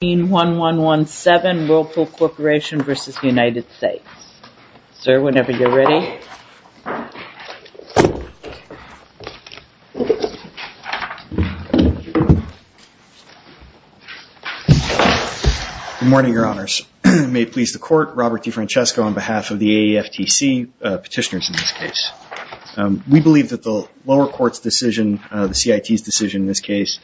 Good morning, your honors. May it please the court, Robert DeFrancesco on behalf of the AEFTC, petitioners in this case. We believe that the lower court's decision, the CIT's decision in this case,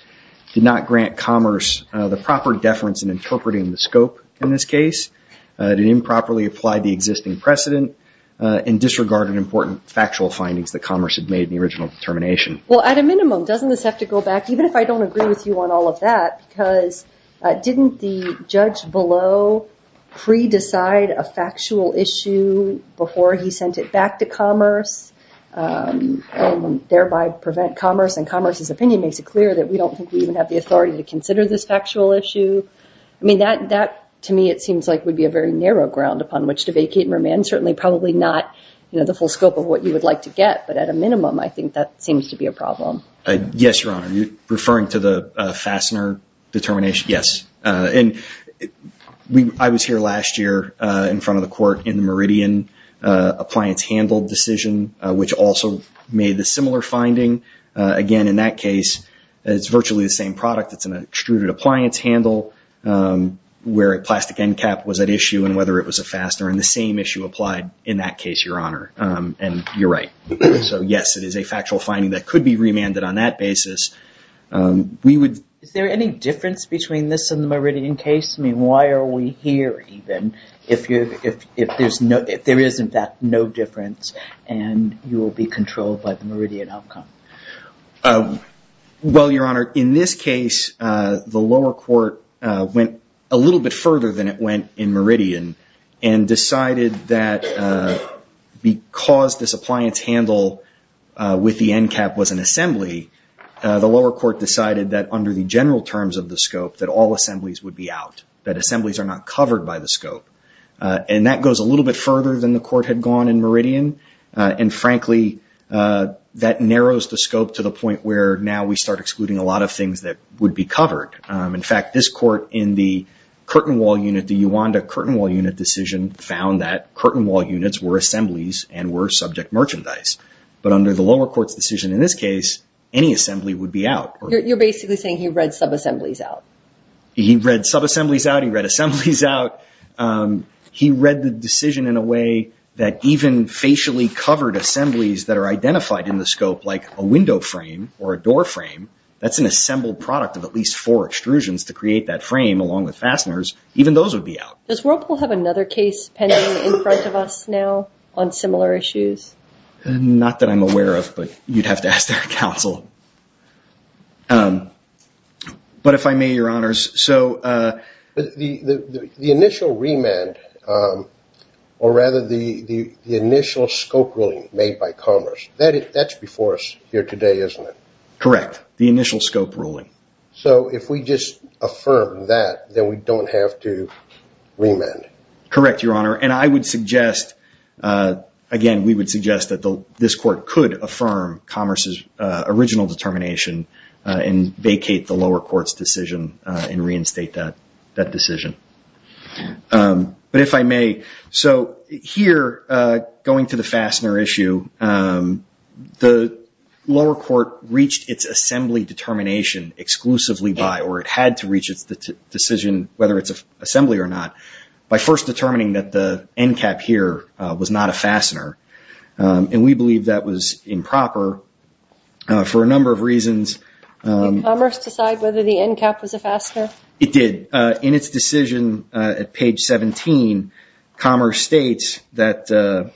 did not grant commerce the proper deference in interpreting the scope in this case, did improperly apply the existing precedent, and disregarded important factual findings that commerce had made in the original determination. Well, at a minimum, doesn't this have to go back, even if I don't agree with you on all of that, because didn't the judge below pre-decide a factual issue before he sent it back to you? I mean, makes it clear that we don't think we even have the authority to consider this factual issue. I mean, that, to me, it seems like would be a very narrow ground upon which to vacate and remand, certainly probably not, you know, the full scope of what you would like to get, but at a minimum, I think that seems to be a problem. Yes, your honor. You're referring to the Fassner determination? Yes. And I was here last year in front of the court in the Meridian appliance handle decision, which also made the similar finding. Again, in that case, it's virtually the same product. It's an extruded appliance handle where a plastic end cap was at issue, and whether it was a Fassner, and the same issue applied in that case, your honor. And you're right. So yes, it is a factual finding that could be remanded on that basis. We would... Is there any difference between this and the Meridian case? I mean, why are we here, even, if there is, in fact, no difference, and you will be controlled by the Meridian outcome? Well, your honor, in this case, the lower court went a little bit further than it went in Meridian, and decided that because this appliance handle with the end cap was an assembly, the lower court decided that under the general terms of the scope, that all assemblies would be out, that assemblies are not covered by the scope. And that goes a little bit further than the court had gone in Meridian. And frankly, that narrows the scope to the point where now we start excluding a lot of things that would be covered. In fact, this court in the curtain wall unit, the Uwanda curtain wall unit decision, found that curtain wall units were assemblies and were subject merchandise. But under the lower court's decision in this case, any assembly would be out. You're basically saying he read sub-assemblies out. He read sub-assemblies out, he read assemblies out, he read the decision in a way that even facially covered assemblies that are identified in the scope, like a window frame or a door frame, that's an assembled product of at least four extrusions to create that frame, along with fasteners, even those would be out. Does Whirlpool have another case pending in front of us now on similar issues? Not that I'm aware of, but you'd have to ask their counsel. But if I may, Your Honors, so the initial remand, or rather the initial scope ruling made by Commerce, that's before us here today, isn't it? Correct. The initial scope ruling. So if we just affirm that, then we don't have to remand? Correct, Your Honor. And I would suggest, again, we would suggest that this court could affirm Commerce's original determination and vacate the lower court's decision and reinstate that decision. But if I may, so here, going to the fastener issue, the lower court reached its assembly determination exclusively by, or it had to reach its decision, whether it's first determining that the end cap here was not a fastener. And we believe that was improper for a number of reasons. Did Commerce decide whether the end cap was a fastener? It did. In its decision at page 17, Commerce states that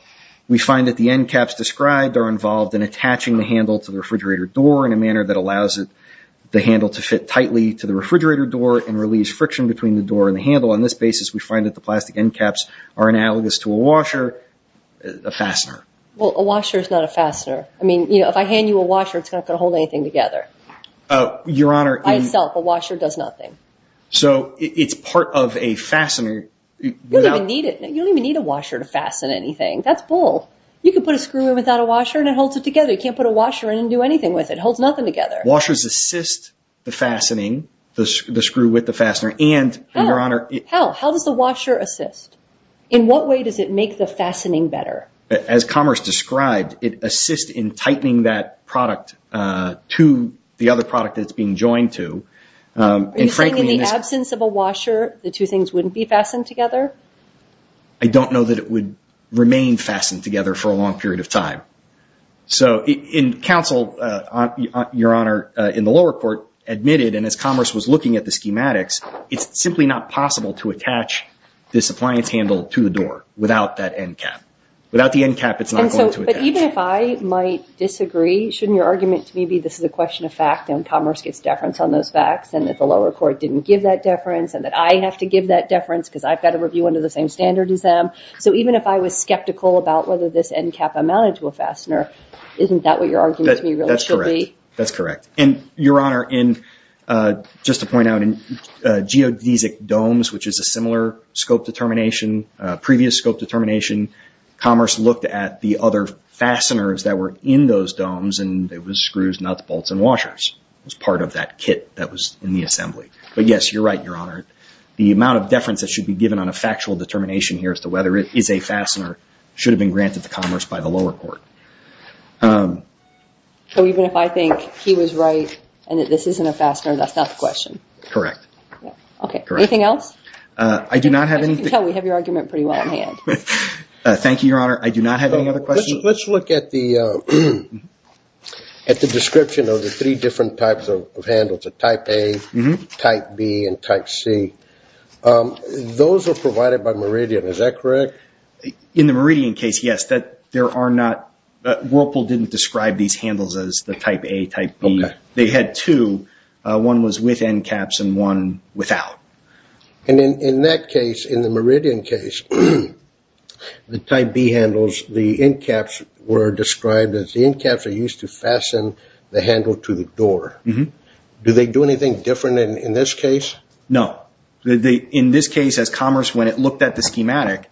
we find that the end caps described are involved in attaching the handle to the refrigerator door in a manner that allows the handle to fit tightly to the refrigerator door and release friction between the door and the handle. On this basis, we find that the plastic end caps are analogous to a washer, a fastener. Well, a washer is not a fastener. I mean, if I hand you a washer, it's not going to hold anything together. Your Honor, it's... By itself, a washer does nothing. So it's part of a fastener without... You don't even need a washer to fasten anything. That's bull. You can put a screw in without a washer and it holds it together. You can't put a washer in and do anything with it. It holds nothing together. Washers assist the fastening, the screw with the fastener, and, Your Honor... How? How does the washer assist? In what way does it make the fastening better? As Commerce described, it assists in tightening that product to the other product that it's being joined to. And frankly, in this... Are you saying in the absence of a washer, the two things wouldn't be fastened together? I don't know that it would remain fastened together for a long period of time. So in this counsel, Your Honor, in the lower court admitted, and as Commerce was looking at the schematics, it's simply not possible to attach this appliance handle to the door without that end cap. Without the end cap, it's not going to attach. But even if I might disagree, shouldn't your argument to me be this is a question of fact and Commerce gets deference on those facts and that the lower court didn't give that deference and that I have to give that deference because I've got a review under the same standard as them? So even if I was skeptical about whether this end cap amounted to a fastener, isn't that what your argument to me really should be? That's correct. And Your Honor, just to point out, in geodesic domes, which is a similar scope determination, previous scope determination, Commerce looked at the other fasteners that were in those domes and it was screws, nuts, bolts, and washers. It was part of that kit that was in the assembly. But yes, you're right, Your Honor. The amount of deference that should be given on a factual determination here as to whether it is a fastener should have been granted to me. So even if I think he was right and that this isn't a fastener, that's not the question? Correct. Okay. Anything else? As you can tell, we have your argument pretty well in hand. Thank you, Your Honor. I do not have any other questions. Let's look at the description of the three different types of handles, the Type A, Type B, and Type C. Those are provided by Meridian, is that correct? In the Meridian case, yes. Whirlpool didn't describe these handles as the Type A, Type B. They had two. One was with end caps and one without. And in that case, in the Meridian case, the Type B handles, the end caps were described as the end caps are used to fasten the handle to the door. Do they do anything different in this case? No. In this case, as Commerce, when it looked at the schematic,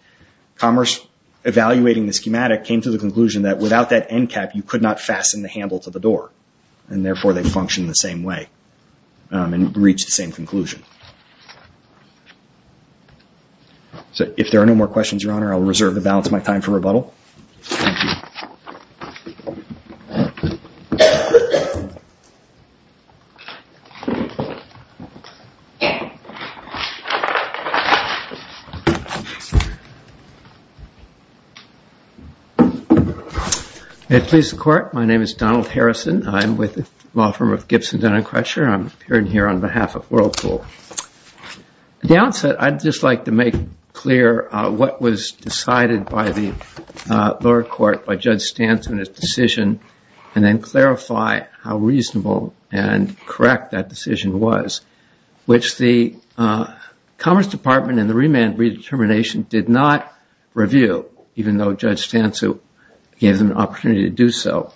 Commerce, evaluating the schematic, came to the conclusion that without that end cap, you could not fasten the handle to the door. And therefore, they function the same way and reach the same conclusion. So if there are no more questions, Your Honor, I'll reserve the balance of my time for rebuttal. May it please the Court, my name is Donald Harrison. I'm with the law firm of Gibson Denon Crutcher. I'm appearing here on behalf of Whirlpool. At the outset, I'd just like to make clear what was decided by the lower court by Judge Stanton in his decision, and then clarify how reasonable and correct that decision was, which the Commerce Department and the remand redetermination did not review, even though Judge Stanton gave them an opportunity to do so.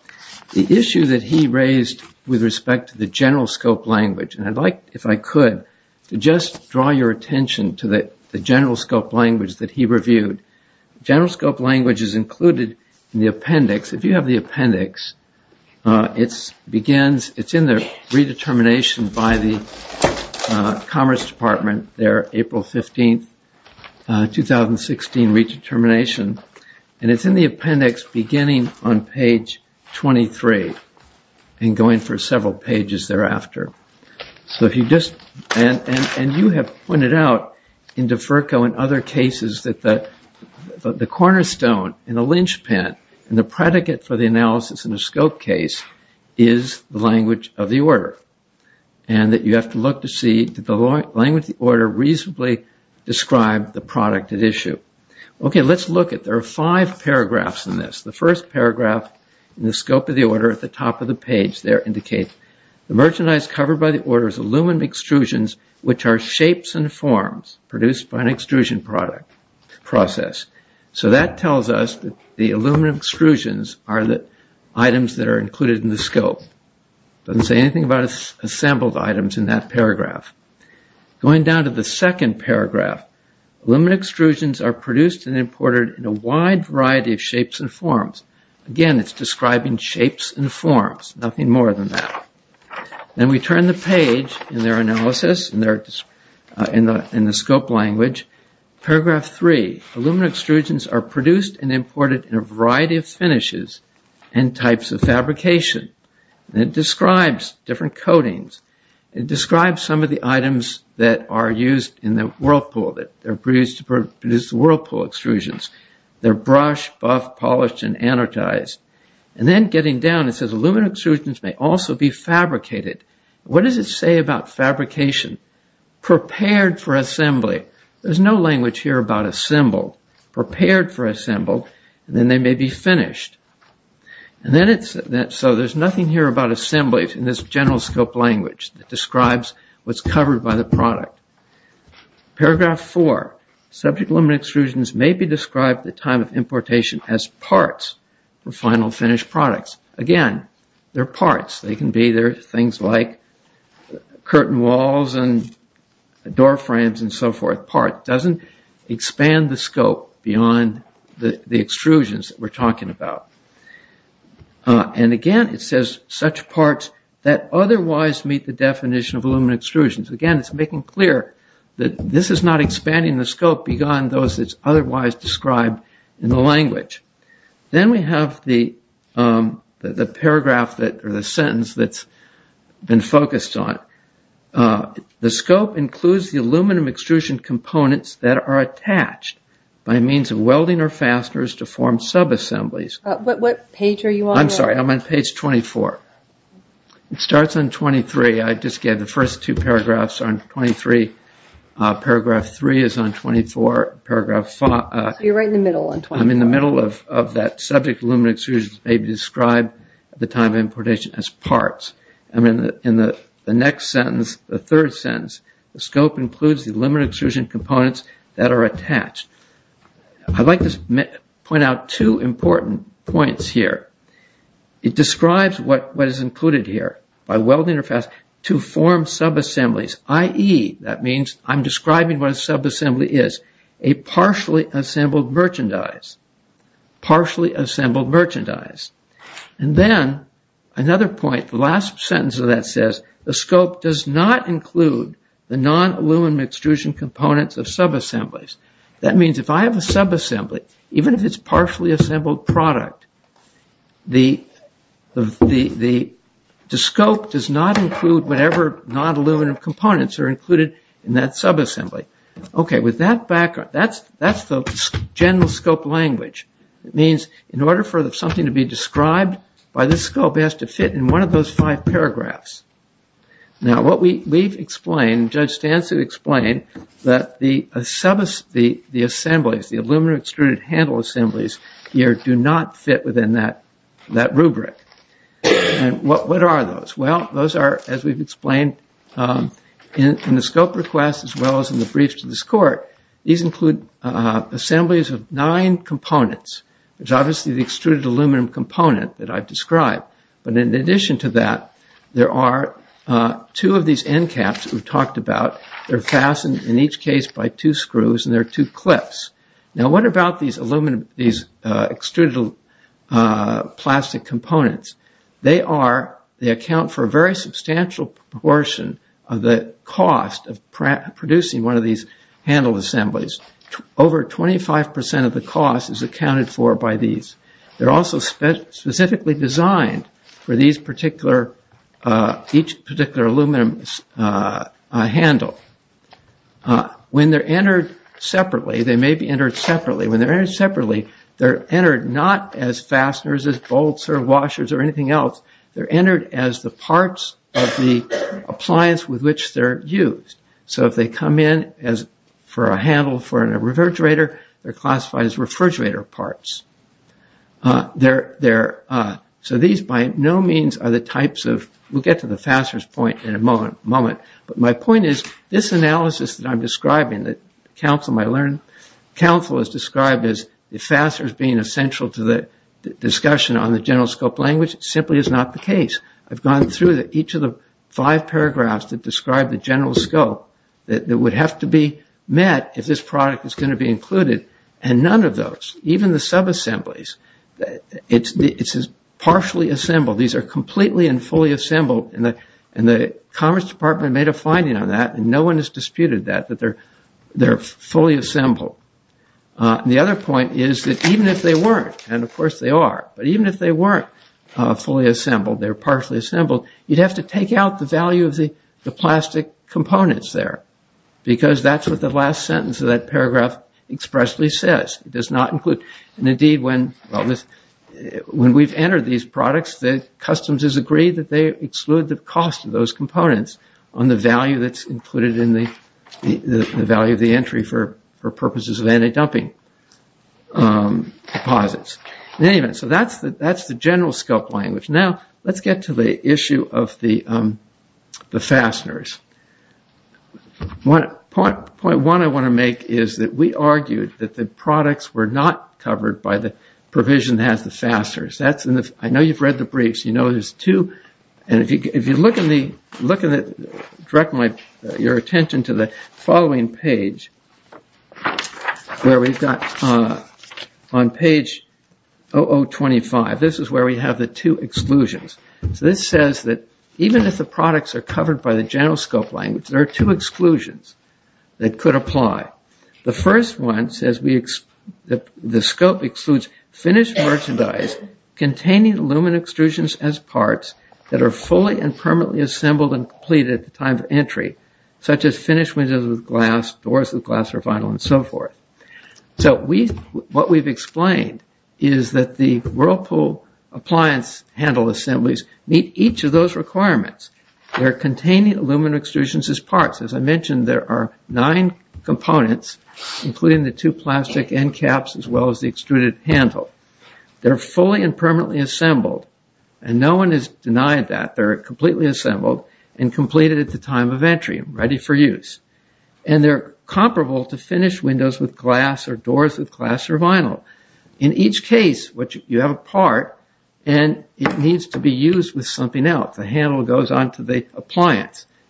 The issue that he raised with respect to the general scope language, and I'd like, if I could, to just draw your attention to the general scope language that he reviewed. General scope language is included in the appendix. If you have the appendix, it's in the redetermination by the Commerce Department, their April 15, 2016 redetermination, and it's in the appendix beginning on page 23 and going for several pages thereafter. And you have pointed out in DeFurco and other cases that the cornerstone and the linchpin and the predicate for the analysis in a scope case is the language of the order, and that you have to look to see, did the language of the order reasonably describe the product at issue? Okay, let's look at, there are five paragraphs in this. The first paragraph in the scope of the order at the top of the page there indicates, the merchandise covered by the order is aluminum extrusions, which are shapes and forms produced by an extrusion process. So that tells us that the aluminum extrusions are the items that are included in the scope. It doesn't say anything about assembled items in that paragraph. Going down to the second paragraph, aluminum extrusions are produced and imported in a wide variety of shapes and forms. Again, it's describing shapes and forms, nothing more than that. Then we turn the page in their analysis in the scope language. Paragraph three, aluminum extrusions are produced and imported in a variety of finishes and types of fabrication. It describes different coatings. It describes some of the items that are used in the whirlpool, that are produced to produce whirlpool extrusions. They're brushed, buffed, polished, and anodized. And then getting down, it says aluminum extrusions may also be fabricated. What does it say about fabrication? Prepared for assembly. There's no language here about assembled. Prepared for assembled, and then they may be finished. So there's nothing here about assembly in this general scope language that describes what's covered by the product. Paragraph four, subject aluminum extrusions may be described at the time of importation as parts for final finished products. Again, they're parts. They can be things like curtain walls and door frames and so forth. Parts. It doesn't expand the scope beyond the extrusions that we're talking about. And again, it says such parts that otherwise meet the definition of aluminum extrusions. Again, it's making clear that this is not expanding the scope beyond those that's otherwise described in the language. Then we have the paragraph, or the sentence, that's been focused on. The scope includes the aluminum extrusion components that are attached by means of welding or fasteners to form sub-assemblies. What page are you on? I'm sorry, I'm on page 24. It starts on 23. I just gave the first two paragraphs are on 23. Paragraph three is on 24. You're right in the middle. I'm in the middle of that subject aluminum extrusions may be described at the time of importation as parts. In the next sentence, the third sentence, the scope includes the aluminum extrusion components that are attached. I'd like to point out two important points here. It describes what is included here by welding to form sub-assemblies, i.e., that means I'm describing what a sub-assembly is, a partially assembled merchandise, partially assembled merchandise. And then another point, the last sentence of that says the scope does not include the non-aluminum extrusion components of sub-assemblies. That means if I have a sub-assembly, even if it's a partially assembled product, the scope does not include whatever non-aluminum components are included in that sub-assembly. Okay, with that background, that's the general scope language. It means in order for something to be described by this scope, it has to fit in one of those five paragraphs. Now, what we've explained, Judge Stancy explained that the assemblies, the aluminum extruded handle assemblies here do not fit within that rubric. And what are those? Well, those are, as we've explained in the scope request as well as in the brief to this court, these include assemblies of nine components. There's obviously the extruded aluminum component that I've described, but in addition to that, there are two of these end caps that we've talked about. They're fastened in each case by two screws and there are two clips. Now, what about these extruded plastic components? They account for a very substantial proportion of the cost of producing one of these handle assemblies. Over 25 percent of the cost is accounted for by these. They're also specifically designed for each particular aluminum handle. When they're entered separately, they may be entered separately. When they're entered separately, they're entered not as fasteners, as bolts, or washers, or anything else. They're entered as the parts of the appliance with which they're used. So if they come in for a handle for a refrigerator, they're classified as refrigerator parts. So these by no means are the types of, we'll get to the fasteners point in a moment, but my point is this analysis that I'm describing, that counsel has described as the fasteners being essential to the discussion on the general scope language simply is not the case. I've gone through each of the five paragraphs that describe the general scope that would have to be met if this product is going to be included and none of those, even the sub-assemblies, it's partially assembled. These are completely and and the Commerce Department made a finding on that and no one has disputed that they're fully assembled. The other point is that even if they weren't, and of course they are, but even if they weren't fully assembled, they're partially assembled, you'd have to take out the value of the plastic components there because that's what the last sentence of that paragraph expressly says. It does not include, and indeed when we've entered these products, the customs has agreed that they exclude the cost of those components on the value that's included in the value of the entry for purposes of anti-dumping deposits. In any event, so that's the general scope language. Now let's get to the issue of the fasteners. Point one I want to make is that we argued that the products were not covered by the provision that has the fasteners. I know you've read the briefs, you know there's two, and if you look directly at your attention to the following page, where we've got on page 0025, this is where we have the two exclusions. So this says that even if the products are covered by the general scope language, there are two exclusions that could apply. The first one says the scope excludes finished merchandise containing aluminum extrusions as parts that are fully and permanently assembled and completed at the time of entry, such as finished windows with glass, doors with glass or vinyl, and so forth. So what we've explained is that the Whirlpool appliance handle assemblies meet each of those nine components, including the two plastic end caps as well as the extruded handle. They're fully and permanently assembled, and no one has denied that they're completely assembled and completed at the time of entry, ready for use. And they're comparable to finished windows with glass or doors with glass or vinyl. In each case, you have a part and it needs to be used with appliance,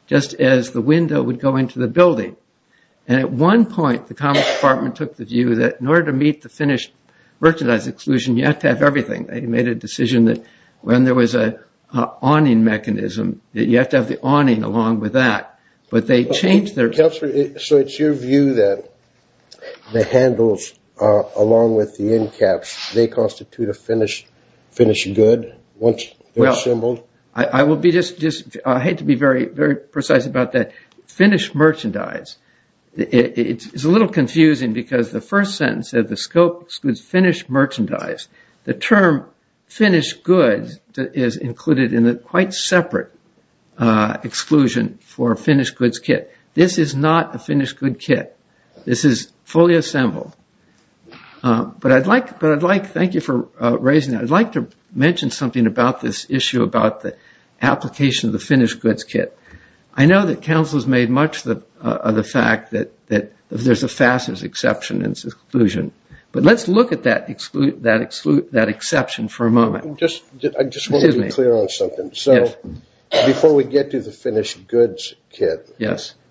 just as the window would go into the building. And at one point, the Commerce Department took the view that in order to meet the finished merchandise exclusion, you have to have everything. They made a decision that when there was an awning mechanism, that you have to have the awning along with that. But they changed their... So it's your view that the handles along with the end caps, they constitute a finished good once they're assembled? I will be just... I hate to be very precise about that. Finished merchandise. It's a little confusing because the first sentence said the scope excludes finished merchandise. The term finished goods is included in a quite separate exclusion for a finished goods kit. This is not finished goods kit. This is fully assembled. But I'd like... But I'd like... Thank you for raising that. I'd like to mention something about this issue about the application of the finished goods kit. I know that Council has made much of the fact that there's a fastest exception and exclusion. But let's look at that exception for a moment. Just... I just want to be clear on something. So before we get to the finished goods kit,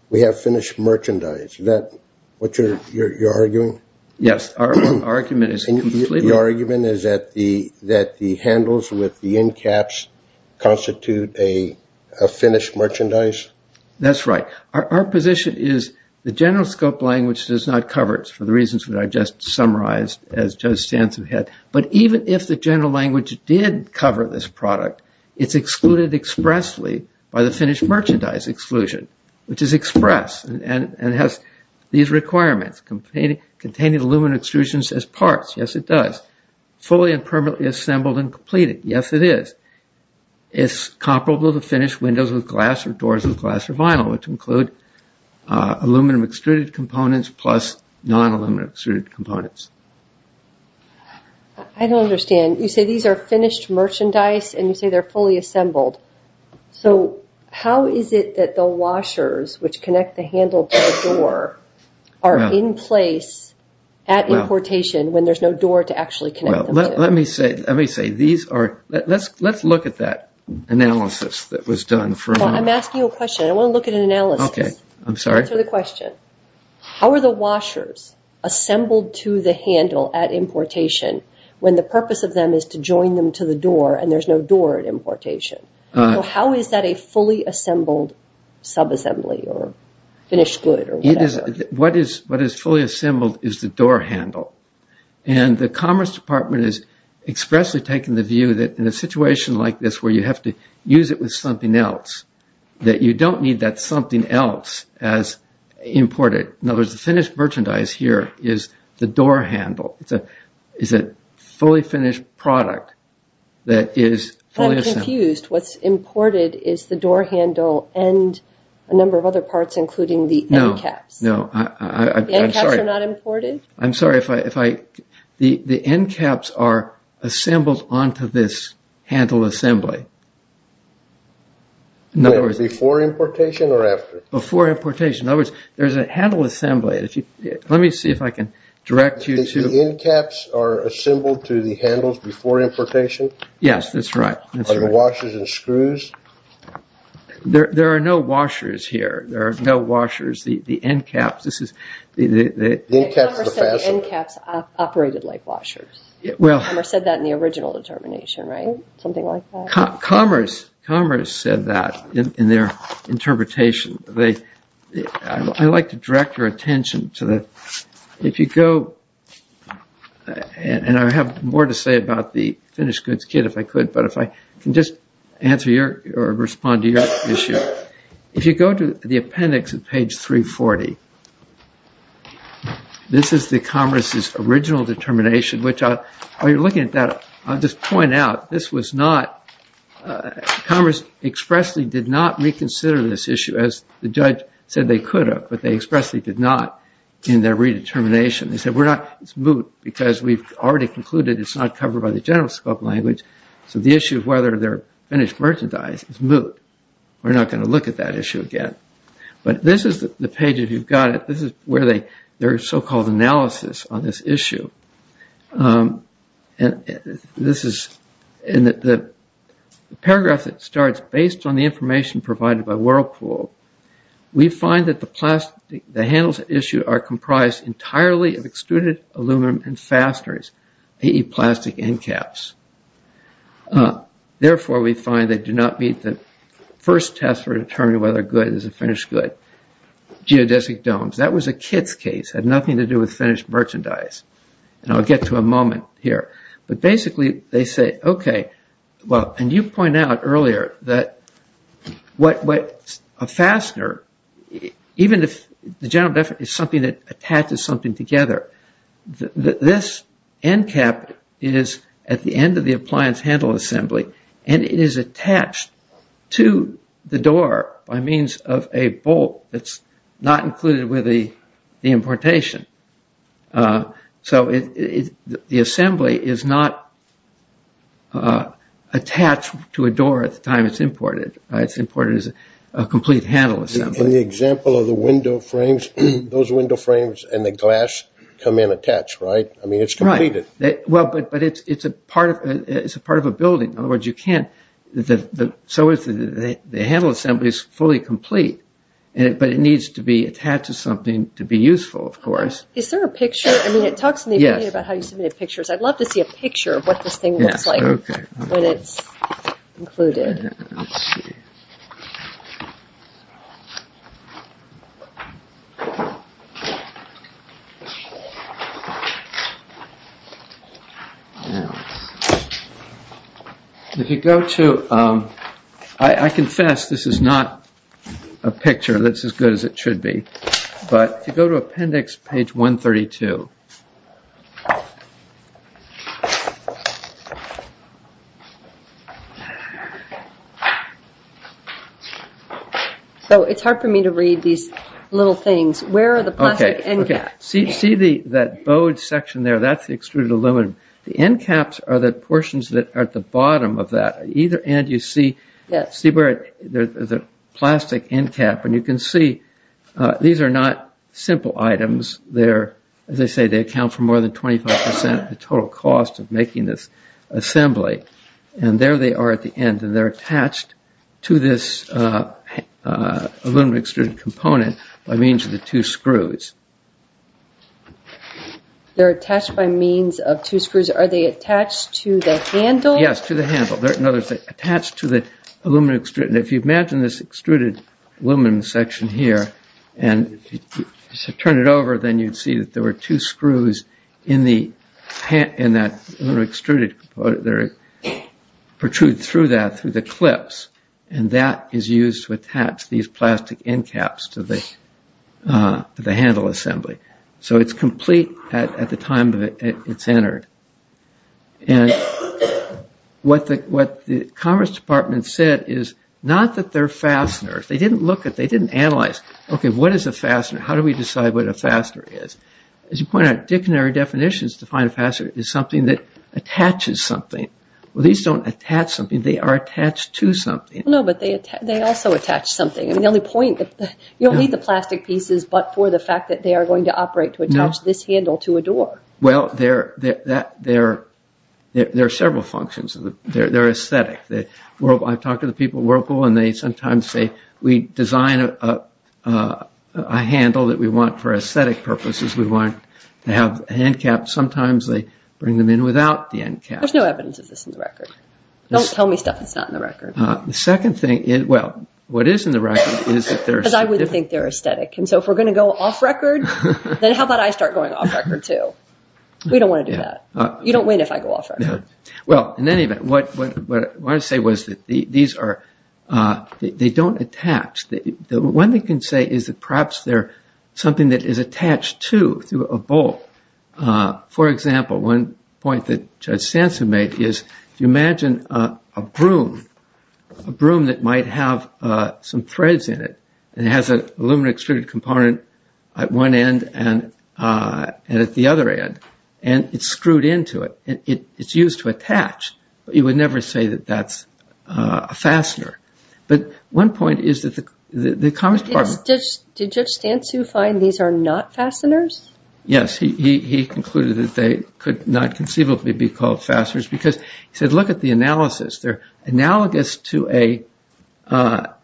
we have finished merchandise. Is that what you're arguing? Yes. Our argument is completely... Your argument is that the handles with the end caps constitute a finished merchandise? That's right. Our position is the general scope language does not cover it for the reasons that I just summarized as Judge Stanton had. But even if the general language did cover this product, it's excluded expressly by the finished merchandise exclusion, which is express and has these requirements containing aluminum extrusions as parts. Yes, it does. Fully and permanently assembled and completed. Yes, it is. It's comparable to finished windows with glass or doors with glass or vinyl, which include aluminum extruded components plus non-aluminum extruded components. I don't understand. You say these are finished merchandise and you say they're fully assembled. So how is it that the washers, which connect the handle to the door, are in place at importation when there's no door to actually connect them to? Well, let me say these are... Let's look at that analysis that was done for a moment. I'm asking you a question. I want to look at an analysis. Okay. I'm sorry. Answer the question. How are the washers assembled to the handle at importation when the purpose of them is to join them to the door and there's no door at importation? How is that a fully assembled sub-assembly or finished good? What is fully assembled is the door handle. The Commerce Department is expressly taking the view that in a situation like this where you have to use it with something else, that you don't need that something else as imported. In other words, the finished merchandise here is the door handle. It's a fully finished product that is fully assembled. I'm confused. What's imported is the door handle and a number of other parts including the end caps. No. I'm sorry. The end caps are not imported? I'm sorry. The end caps are assembled onto this handle assembly. Before importation or after? Before importation. There's a handle assembly. Let me see if I can direct you to... The end caps are assembled to the handles before importation? Yes, that's right. Are there washers and screws? There are no washers here. There are no washers. The end caps, this is... Commerce said the end caps operated like washers. Commerce said that in the original determination, right? Commerce said that in their interpretation. I'd like to direct your attention to the... If you go... And I have more to say about the finished goods kit if I could, but if I can just answer your or respond to your issue. If you go to the appendix at page 340, this is the Commerce's original determination. While you're looking at that, I'll just point out this was not... Commerce expressly did not reconsider this issue as the judge said they could have, but they expressly did not in their redetermination. They said we're not... It's moot because we've already concluded it's not covered by the general scope language, so the issue of whether they're finished merchandise is moot. We're not going to look at that issue again. But this is the page if you've got it. This is where they... Their so-called analysis on this issue. And this is... In the paragraph that starts, based on the information provided by Whirlpool, we find that the plastic... The handles at issue are comprised entirely of extruded aluminum and fasteners, plastic end caps. Therefore, we find they do not meet the first test for determining whether a good is a finished good. Geodesic domes. That was a kit's had nothing to do with finished merchandise. And I'll get to a moment here. But basically, they say, okay, well... And you point out earlier that a fastener, even if the general definition is something that attaches something together, this end cap is at the end of the appliance handle assembly, and it is attached to the door by means of a bolt that's not included with the importation. So the assembly is not attached to a door at the time it's imported. It's imported as a complete handle assembly. In the example of the window frames, those window frames and the glass come in attached, right? I mean, it's completed. Right. Well, but it's a part of a building. In other words, you can't... So the handle assembly is fully complete, but it needs to be attached to something to be useful, of course. Is there a picture? I mean, it talks in the opinion about how you submitted pictures. I'd love to see a picture of what this thing looks like when it's included. If you go to... I confess this is not a picture that's as good as it should be. But if you go to appendix page 132... So it's hard for me to read these little things. Where are the plastic end caps? See that bowed section there? That's the extruded aluminum. The end caps are the portions that are bottom of that. At either end, you see the plastic end cap. And you can see these are not simple items. They're, as I say, they account for more than 25 percent of the total cost of making this assembly. And there they are at the end. And they're attached to this aluminum extruded component by means of the two screws. They're attached by means of two screws. Are they to the handle? No, they're attached to the aluminum extruder. And if you imagine this extruded aluminum section here, and if you turn it over, then you'd see that there were two screws in that extruded component. They're protruding through that through the clips. And that is used to attach these plastic end caps to the handle assembly. So it's complete at the time it's entered. And what the Commerce Department said is not that they're fasteners. They didn't look at, they didn't analyze, okay, what is a fastener? How do we decide what a fastener is? As you point out, dictionary definitions define a fastener as something that attaches something. Well, these don't attach something. They are attached to something. No, but they also attach something. I mean, the only point, you don't need the plastic pieces, but for the fact that they are going to operate to attach this handle to a door. Well, there are several functions. They're aesthetic. I've talked to the people at Whirlpool, and they sometimes say, we design a handle that we want for aesthetic purposes. We want to have a hand cap. Sometimes they bring them in without the end cap. There's no evidence of this in the record. Don't tell me stuff that's not in the record. The second thing is, well, what is in the record is that they're... Because I wouldn't think they're aesthetic. And so if we're going to go off record, then how about I start going off record, too? We don't want to do that. You don't win if I go off record. Well, in any event, what I want to say was that these are... They don't attach. One thing I can say is that perhaps they're something that is attached to, through a bolt. For example, one point that Judge Sansum made is, if you imagine a broom that might have some threads in it, and it has an aluminum extruded component at one end and at the other end, and it's screwed into it, it's used to attach. But you would never say that that's a fastener. But one point is that the Commerce Department... Did Judge Sansum find these are not fasteners? Yes. He concluded that they could not conceivably be called fasteners because he said, look at the analysis. They're analogous to a... A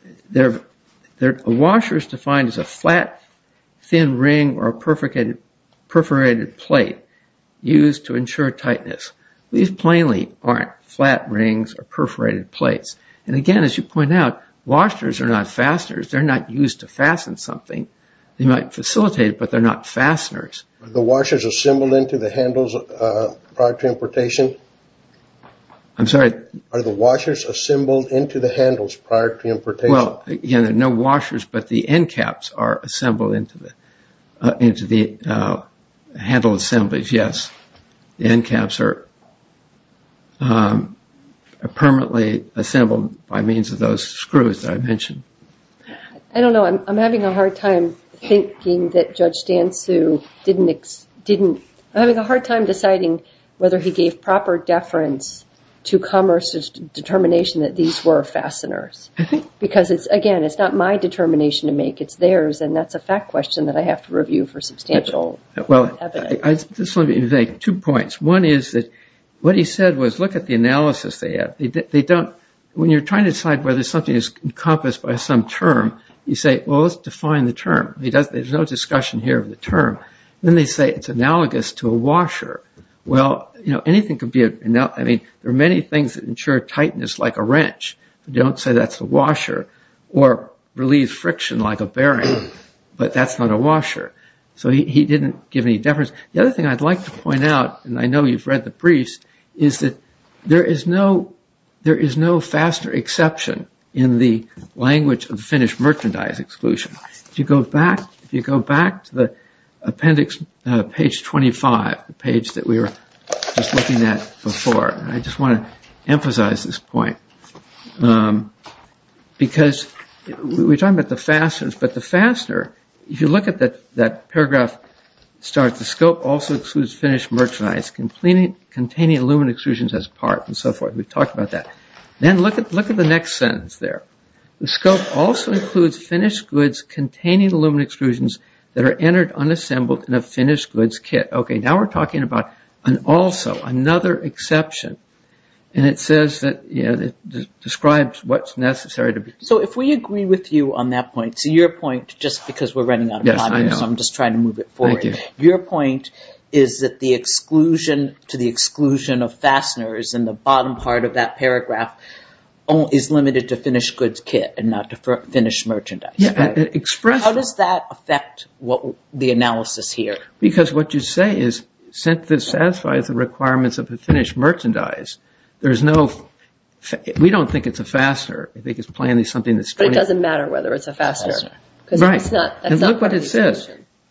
washer is defined as a flat, thin ring or a perforated plate used to ensure tightness. These plainly aren't flat rings or perforated plates. And again, as you point out, washers are not fasteners. They're not used to fasten something. They might facilitate it, but they're not fasteners. Are the washers assembled into the handles prior to importation? I'm sorry? Are the washers assembled into the handles prior to importation? Well, again, there are no washers, but the end caps are assembled into the handle assemblies. Yes. The end caps are permanently assembled by means of those screws that I mentioned. I don't know. I'm having a hard time thinking that Judge Sansum didn't... I'm having a hard time deciding whether he gave proper deference to Commerce's determination that these were fasteners. Because it's, again, it's not my determination to make, it's theirs. And that's a fact question that I have to review for substantial evidence. Well, just let me make two points. One is that what he said was, look at the analysis they have. They don't... When you're trying to decide whether something is encompassed by some term, you say, well, let's define the term. There's no discussion here of the term. Then they say it's analogous to a washer. Well, anything could be... I mean, there are many things that ensure tightness like a wrench. Don't say that's a washer or relieve friction like a bearing, but that's not a washer. So he didn't give any deference. The other thing I'd like to point out, and I know you've read the briefs, is that there is no fastener exception in the language of the Finnish merchandise exclusion. If you go back to the appendix, page 25, the page that we were just looking at before, I just want to emphasize this point. Because we're talking about the fasteners, but the fastener, containing aluminum exclusions as part and so forth. We've talked about that. Then look at the next sentence there. The scope also includes Finnish goods containing aluminum exclusions that are entered unassembled in a Finnish goods kit. Okay, now we're talking about an also, another exception. And it says that... It describes what's necessary to be... So if we agree with you on that point, so your point, just because we're running out of time, so I'm just trying to move it forward. Your point is that the exclusion to the exclusion of fasteners in the bottom part of that paragraph is limited to Finnish goods kit and not to Finnish merchandise. How does that affect the analysis here? Because what you say is, since this satisfies the requirements of the Finnish merchandise, there's no... We don't think it's a fastener. I think it's plainly something that's... But it doesn't matter whether it's a fastener. Right. And look what it says.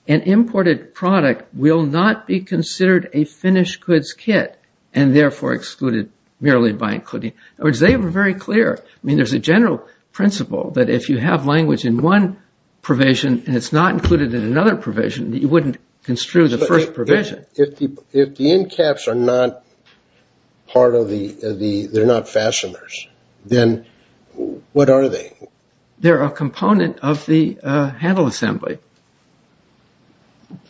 An imported product will not be considered a Finnish goods kit and therefore excluded merely by including... In other words, they were very clear. I mean, there's a general principle that if you have language in one provision and it's not included in another provision, you wouldn't construe the first provision. If the end caps are not part of the... They're not fasteners, then what are they? They're a component of the handle assembly.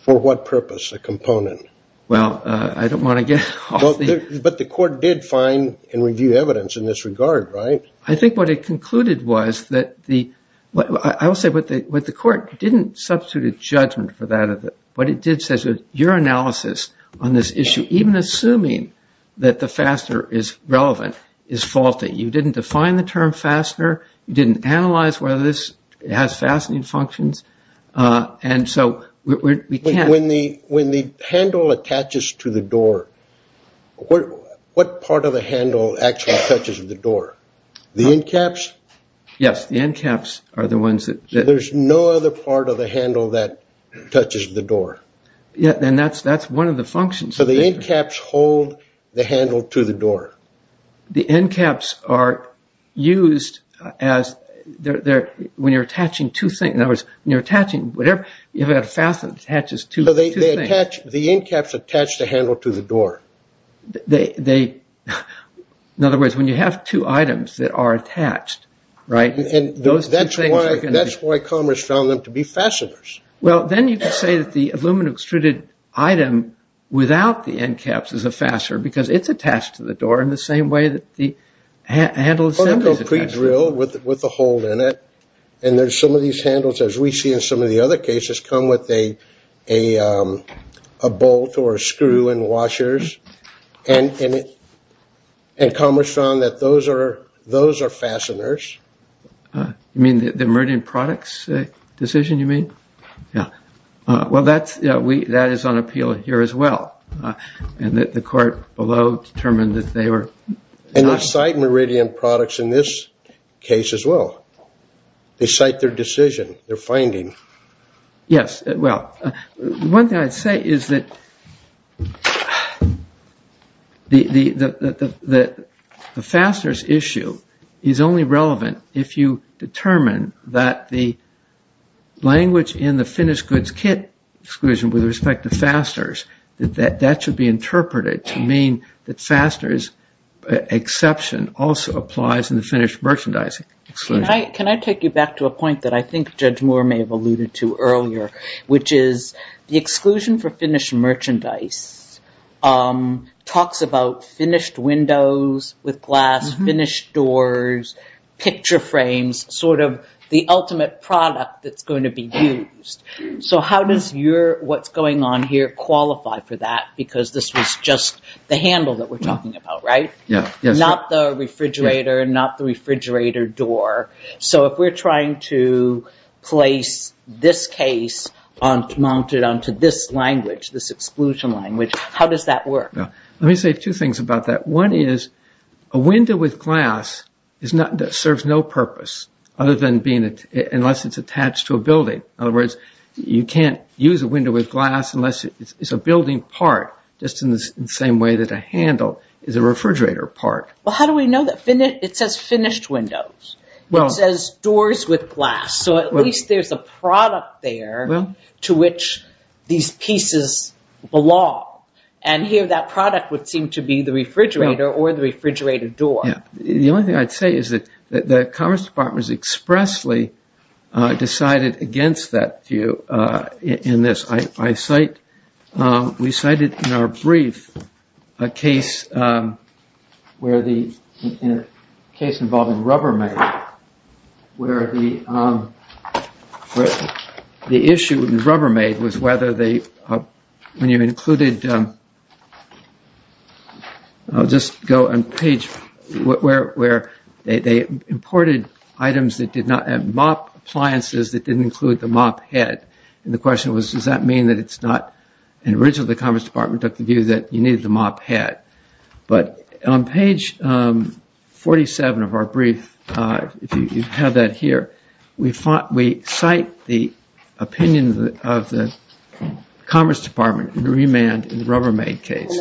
For what purpose, a component? Well, I don't want to get off the... But the court did find and review evidence in this regard, right? I think what it concluded was that the... I will say what the court didn't substitute a judgment for that. What it did say was your analysis on this issue, even assuming that the fastener is relevant, is faulty. You didn't define the term fastener. You didn't analyze whether this has fastening functions. And so we can't... When the handle attaches to the door, what part of the handle actually touches the door? The end caps? Yes, the end caps are the ones that... There's no other part of the handle that touches the door? Yeah, and that's one of the functions. So the end caps hold the handle to the door? The end caps are used as... When you're attaching two things... In other words, when you're attaching whatever... You have a fastener that attaches two things. The end caps attach the handle to the door. In other words, when you have two items that are attached, right? That's why Commerce found them to be fasteners. Well, then you can say that the aluminum extruded item without the end caps is a fastener because it's attached to the door in the same way that the handle itself is attached to the door. Or it's pre-drilled with a hole in it. And there's some of these handles, as we see in some of the other cases, come with a bolt or a screw and washers. And Commerce found that those are fasteners. You mean the Meridian Products decision, you mean? Yeah. Well, that is on appeal here as well. And the court below determined that they were... And they cite Meridian Products in this case as well. They cite their decision, their finding. Yes. Well, one thing I'd say is that the fasteners issue is only relevant if you determine that the language in the finished goods kit exclusion with respect to fasteners, that that should be interpreted to mean that fasteners exception also applies in the finished merchandise exclusion. Can I take you back to a point that I think Judge Moore may have alluded to earlier, which is the exclusion for finished merchandise talks about finished windows with glass, finished doors, picture frames, sort of the ultimate product that's going to be used. So how does what's going on here qualify for that? Because this was just the handle that we're talking about, right? Yeah. Not the refrigerator and not the refrigerator door. So if we're trying to place this case mounted onto this language, this exclusion language, how does that work? Let me say two things about that. One is a window with glass serves no purpose unless it's attached to a building. In other words, you can't use a window with glass unless it's a building part, just in the same way that a handle is a refrigerator part. Well, how do we know that? It says finished windows. It says doors with glass. So at least there's a product there to which these pieces belong. And here that product would seem to be the refrigerator or the refrigerator door. Yeah. The only thing I'd say is that the Commerce Department expressly decided against that view in this. We cited in our brief a case involving Rubbermaid, where the issue with Rubbermaid was whether they, when you included, I'll just go on page, where they imported items that did not, mop appliances that didn't include the mop head. And the question was, does that mean that it's not, and originally the Commerce Department took the view that you needed the mop head. But on page 47 of our brief, if you have that here, we cite the opinion of the Commerce Department in remand in the Rubbermaid case.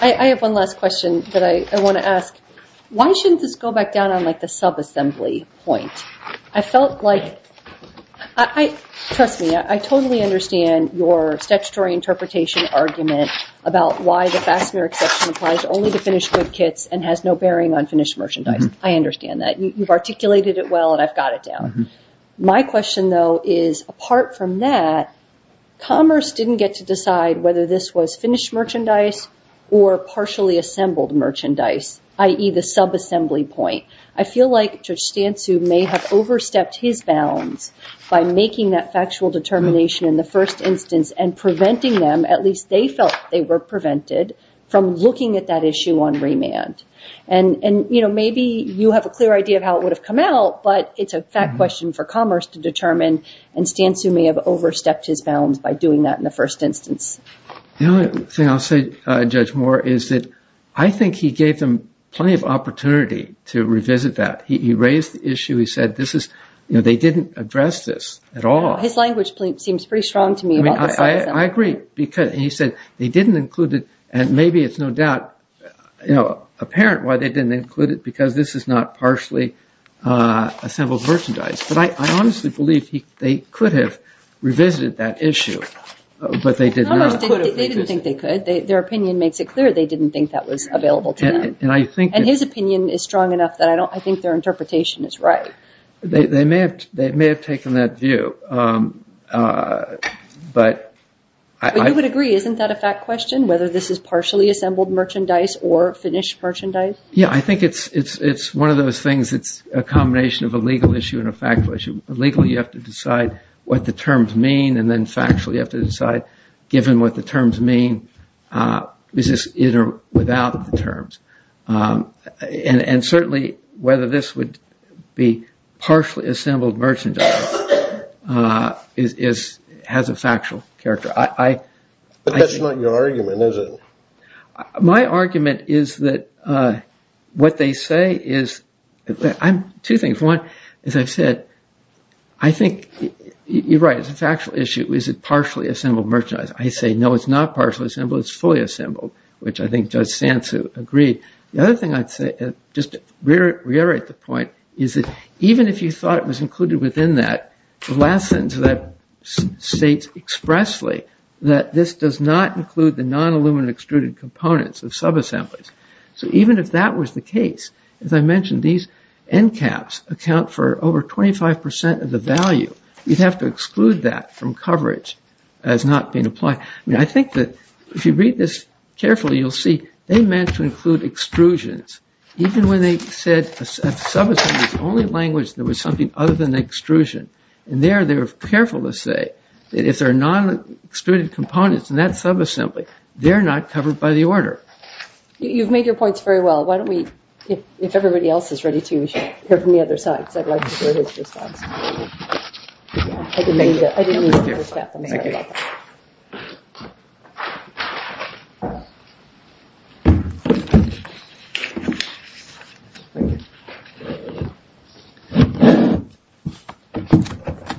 I have one last question that I want to ask. Why shouldn't this go back down on the subassembly point? I felt like, trust me, I totally understand your statutory interpretation argument about why the fastener exception applies only to finished goods kits and has no bearing on finished merchandise. I understand that. You've articulated it well and I've got it down. My question though is, apart from that, Commerce didn't get to decide whether this was finished merchandise or partially assembled merchandise, i.e. the subassembly point. I feel like Judge Stansu may have overstepped his bounds by making that factual determination in the first instance and preventing them, at least they felt they were prevented, from looking at that issue on remand. And maybe you have a clear idea of how it would have come out, but it's a fact question for Commerce to determine and Stansu may have overstepped his bounds by doing that in the first instance. The only thing I'll say, Judge Moore, is that I think he gave them plenty of opportunity to revisit that. He raised the issue. He said they didn't address this at all. His language seems pretty strong to me. I agree. He said they didn't include it and maybe it's no doubt apparent why they didn't include it because this is not partially assembled merchandise. But I honestly believe they could have revisited that issue, but they did not. They didn't think they could. Their opinion makes it clear they didn't think that was available to them. And his opinion is strong enough that I think their interpretation is right. They may have taken that view. But I would agree. Isn't that a fact question, whether this is partially assembled merchandise or finished merchandise? Yeah, I think it's one of those things. It's a combination of a legal issue and a factual issue. Legally you have to decide what the terms mean and then factually you have to decide given what the terms mean, is this in or without the terms? And certainly whether this would be partially assembled merchandise has a factual character. That's not your argument, is it? My argument is that what they say is two things. One, as I've said, I think you're right. It's a factual issue. Is it partially assembled merchandise? I say no, it's not partially assembled. It's fully assembled, which I think Judge Sansu agreed. The other thing I'd say, just to reiterate the point, is that even if you thought it was included within that, the last sentence of that states expressly that this does not include the non-aluminum extruded components of subassemblies. So even if that was the case, as I mentioned, these end caps account for over 25% of the value. You'd have to exclude that from coverage as not being applied. I think that if you read this carefully, you'll see they meant to include extrusions. Even when they said a subassembly was the only language that was something other than the extrusion. And there they were careful to say that if there are non-extruded components in that subassembly, they're not covered by the order. You've made your points very well. Why don't we, if everybody else is ready to, we should hear from the other side. Because I'd like to hear his response. Thank you. I didn't mean to interrupt. I'm sorry about that.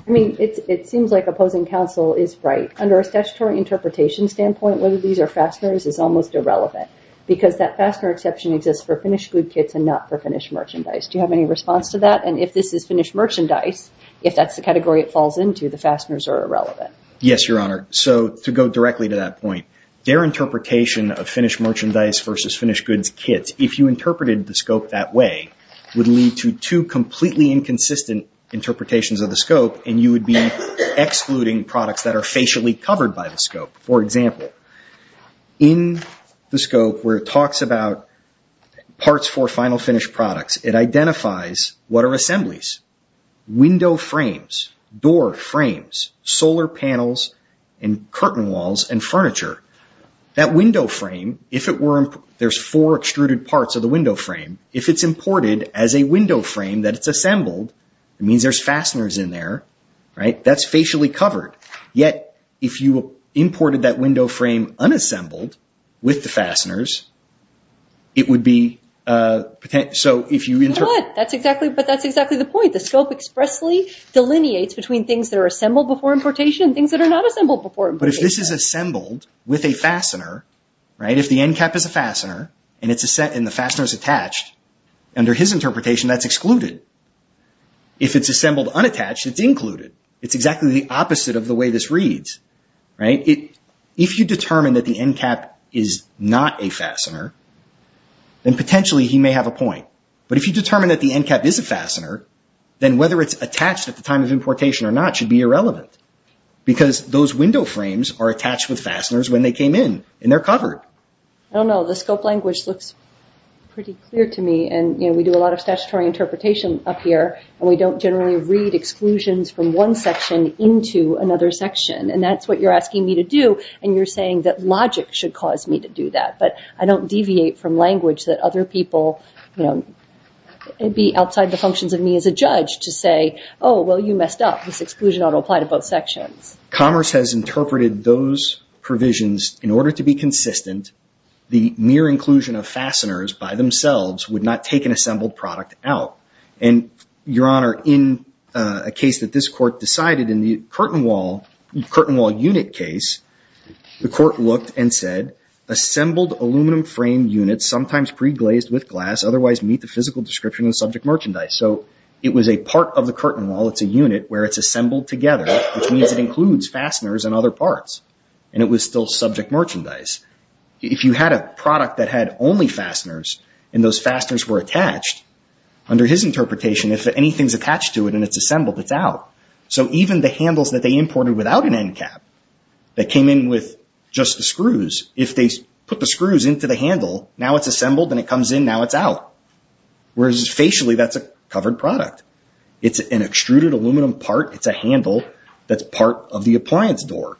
I mean, it seems like opposing counsel is right. Under a statutory interpretation standpoint, whether these are fasteners is almost irrelevant. Because that fastener exception exists for finished good kits and not for finished merchandise. Do you have any response to that? And if this is finished merchandise, if that's the category it falls into, the fasteners are irrelevant. Yes, Your Honor. So to go directly to that point, their interpretation of finished merchandise versus finished goods kits, if you interpreted the scope that way, would lead to two completely inconsistent interpretations of the scope. And you would be excluding products that are facially covered by the scope. For example, in the scope where it talks about parts for final finished products, it identifies what are assemblies, window frames, door frames, solar panels, and curtain walls and furniture. That window frame, if it were, there's four extruded parts of the window frame. If it's imported as a window frame that it's assembled, it means there's fasteners in there, right? That's facially covered. Yet, if you imported that window frame unassembled with the fasteners, it would be, so if you interpret... But that's exactly the point. The scope expressly delineates between things that are assembled before importation and things that are not assembled before importation. But if this is assembled with a fastener, right? If the end cap is a fastener and the fastener is attached, under his interpretation, that's excluded. If it's assembled unattached, it's included. It's exactly the opposite of the way this reads, right? If you determine that the end cap is not a fastener, then potentially he may have a point. But if you determine that the end cap is a fastener, then whether it's attached at the time of importation or not should be irrelevant because those window frames are attached with fasteners when they came in and they're covered. I don't know. The scope language looks pretty clear to me and we do a lot of statutory interpretation up here and we don't generally read exclusions from one section into another section. And that's what you're asking me to do and you're saying that logic should cause me to do that. But I don't deviate from language that other people, you know, it'd be outside the functions of me as a judge to say, oh, well, you messed up. This exclusion ought to apply to both sections. Commerce has interpreted those provisions in order to be consistent. The mere inclusion of fasteners by themselves would not take an assembled product out. And, Your Honor, in a case that this court decided in the curtain wall unit case, the court looked and said, assembled aluminum frame units, sometimes pre-glazed with glass, otherwise meet the physical description and subject merchandise. So it was a part of the curtain wall. It's a unit where it's assembled together, which means it includes fasteners and other parts. And it was still subject merchandise. If you had a product that had only fasteners and those fasteners were attached under his interpretation, if anything's attached to it and it's assembled, it's out. So even the handles that they imported without an end cap that came in with just the screws, if they put the screws into the handle, now it's assembled and it comes in. Now it's out. Whereas facially, that's a covered product. It's an extruded aluminum part. It's a handle. That's part of the appliance door.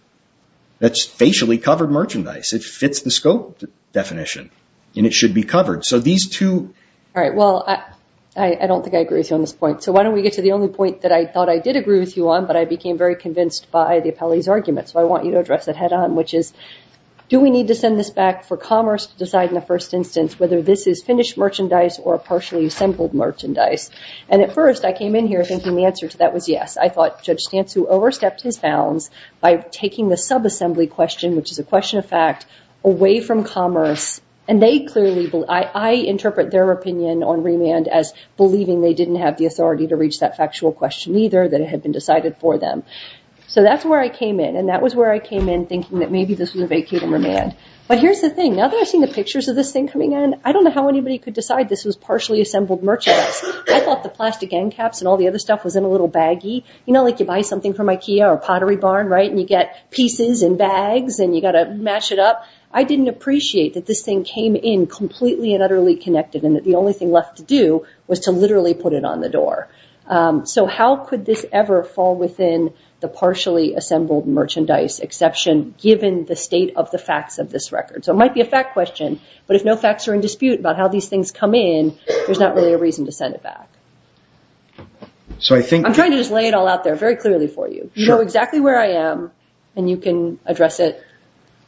That's facially covered merchandise. It fits the scope definition and it should be covered. So these two... All right. Well, I don't think I agree with you on this point. So why don't we get to the only point that I thought I did agree with you on, but I became very convinced by the appellee's argument. So I want you to address it head on, which is, do we need to send this back for commerce to decide in the first instance whether this is finished merchandise or partially assembled merchandise? And at first, I came in here thinking the answer to that was yes. I thought Judge Stantz, who overstepped his bounds by taking the subassembly question, which is a question of fact, away from commerce. And they clearly... I interpret their opinion on remand as believing they didn't have the authority to reach that factual question either, that it had been decided for them. So that's where I came in. And that was where I came in thinking that maybe this was a vacate and remand. But here's the thing. Now that I've seen the pictures of this thing coming in, I don't know how anybody could decide this was partially assembled merchandise. I thought the plastic end caps and all the other stuff was in a little baggie. You know, like you buy something from Ikea or Pottery Barn, right? You get pieces in bags and you got to match it up. I didn't appreciate that this thing came in completely and utterly connected and that the only thing left to do was to literally put it on the door. So how could this ever fall within the partially assembled merchandise exception given the state of the facts of this record? So it might be a fact question, but if no facts are in dispute about how these things come in, there's not really a reason to send it back. So I think... I'm trying to just lay it all out there very clearly for you. You know exactly where I am and you can address it.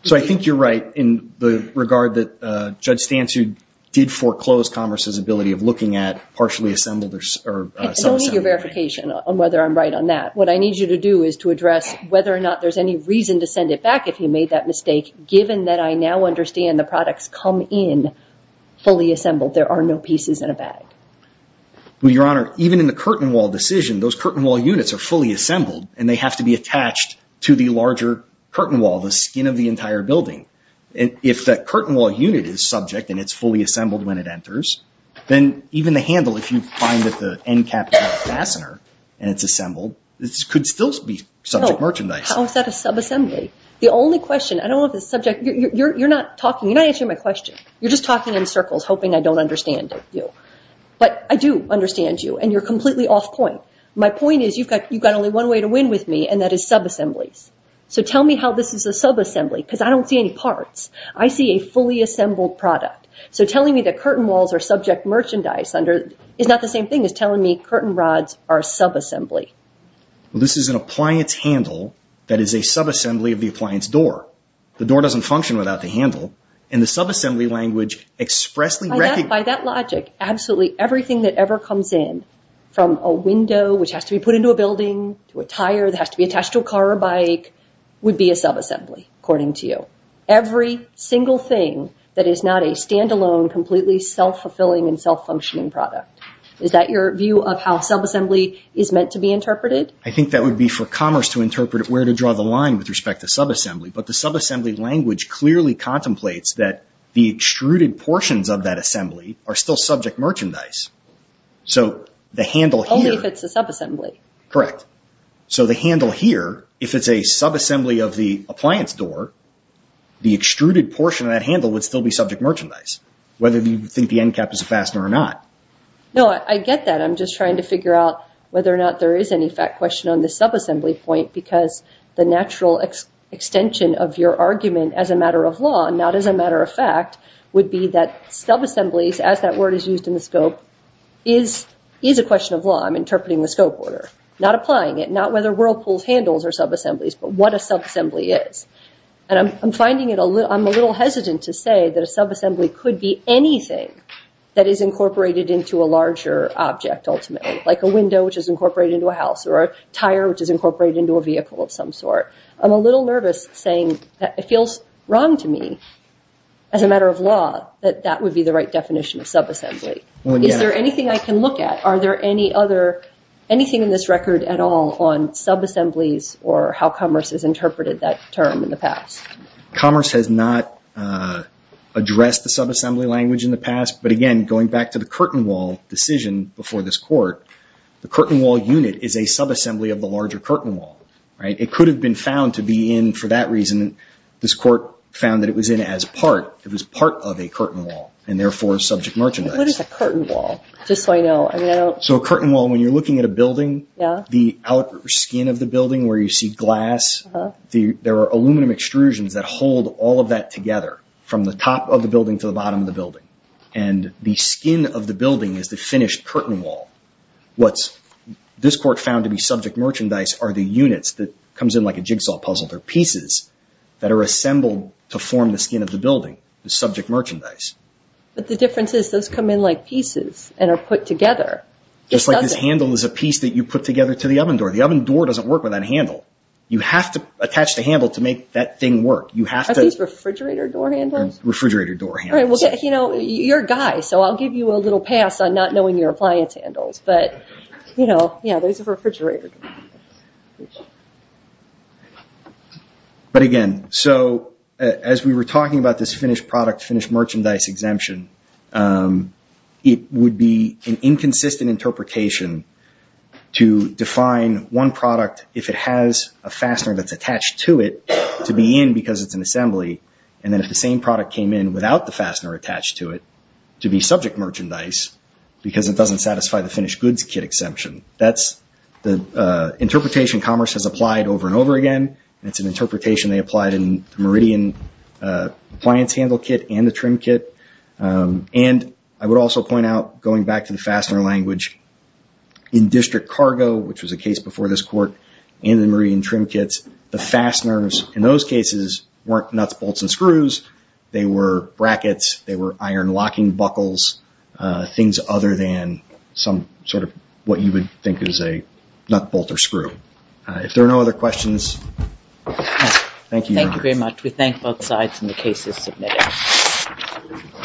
So I think you're right in the regard that Judge Stansu did foreclose Congress's ability of looking at partially assembled or some assembled... I don't need your verification on whether I'm right on that. What I need you to do is to address whether or not there's any reason to send it back if he made that mistake, given that I now understand the products come in fully assembled. There are no pieces in a bag. Well, Your Honor, even in the curtain wall decision, those curtain wall units are fully assembled and they have to be attached to the larger curtain wall, the skin of the entire building. If that curtain wall unit is subject and it's fully assembled when it enters, then even the handle, if you find that the end cap is not a fastener and it's assembled, this could still be subject merchandise. How is that a subassembly? The only question... I don't know if it's subject... You're not talking. You're not answering my question. You're just talking in circles, hoping I don't understand you. But I do understand you and you're completely off point. My point is you've got only one way to win with me and that is subassemblies. So tell me how this is a subassembly because I don't see any parts. I see a fully assembled product. So telling me that curtain walls are subject merchandise is not the same thing as telling me curtain rods are subassembly. This is an appliance handle that is a subassembly of the appliance door. The door doesn't function without the handle and the subassembly language expressly... By that logic, absolutely everything that ever comes in from a window, which has to be put into a building, to a tire that has to be attached to a car or bike would be a subassembly according to you. Every single thing that is not a standalone, completely self-fulfilling and self-functioning product. Is that your view of how subassembly is meant to be interpreted? I think that would be for commerce to interpret where to draw the line with respect to subassembly. But the subassembly language clearly contemplates that the extruded portions of that are still subject merchandise. So the handle here... Only if it's a subassembly. Correct. So the handle here, if it's a subassembly of the appliance door, the extruded portion of that handle would still be subject merchandise. Whether you think the end cap is a fastener or not. No, I get that. I'm just trying to figure out whether or not there is any fact question on the subassembly point because the natural extension of your argument as a matter of law, not as a matter of fact, would be that subassemblies, as that word is used in the scope, is a question of law. I'm interpreting the scope order. Not applying it. Not whether Whirlpool's handles are subassemblies, but what a subassembly is. And I'm finding it a little... I'm a little hesitant to say that a subassembly could be anything that is incorporated into a larger object ultimately. Like a window which is incorporated into a house or a tire which is incorporated into a vehicle of some sort. I'm a little nervous saying that it feels wrong to me as a matter of law that that would be the right definition of subassembly. Is there anything I can look at? Are there any other... Anything in this record at all on subassemblies or how Commerce has interpreted that term in the past? Commerce has not addressed the subassembly language in the past. But again, going back to the curtain wall decision before this court, the curtain wall unit is a subassembly of the larger curtain wall, right? It could have been found to be in for that reason. This court found that it was in as part. It was part of a curtain wall and therefore subject merchandise. What is a curtain wall? Just so I know. So a curtain wall, when you're looking at a building, the outer skin of the building where you see glass, there are aluminum extrusions that hold all of that together from the top of the building to the bottom of the building. And the skin of the building is the finished curtain wall. What this court found to be subject merchandise are the units that comes in like a jigsaw puzzle. They're pieces that are assembled to form the skin of the building. The subject merchandise. But the difference is those come in like pieces and are put together. Just like this handle is a piece that you put together to the oven door. The oven door doesn't work with that handle. You have to attach the handle to make that thing work. You have to... Are these refrigerator door handles? Refrigerator door handles. You know, you're a guy, so I'll give you a little pass on not knowing your appliance handles. But, you know, those are refrigerator door handles. But again, so as we were talking about this finished product, finished merchandise exemption, it would be an inconsistent interpretation to define one product, if it has a fastener that's attached to it, to be in because it's an assembly. And then if the same product came in without the fastener attached to it, to be subject merchandise, because it doesn't satisfy the finished goods kit exemption. That's the interpretation commerce has applied over and over again. And it's an interpretation they applied in the Meridian appliance handle kit and the trim kit. And I would also point out, going back to the fastener language, in district cargo, which was a case before this court, and the Meridian trim kits, the fasteners in those cases weren't nuts, bolts, and screws. They were brackets. They were iron locking buckles, things other than some sort of what you would think is a nut, bolt, or screw. If there are no other questions, thank you. Thank you very much. We thank both sides in the cases submitted.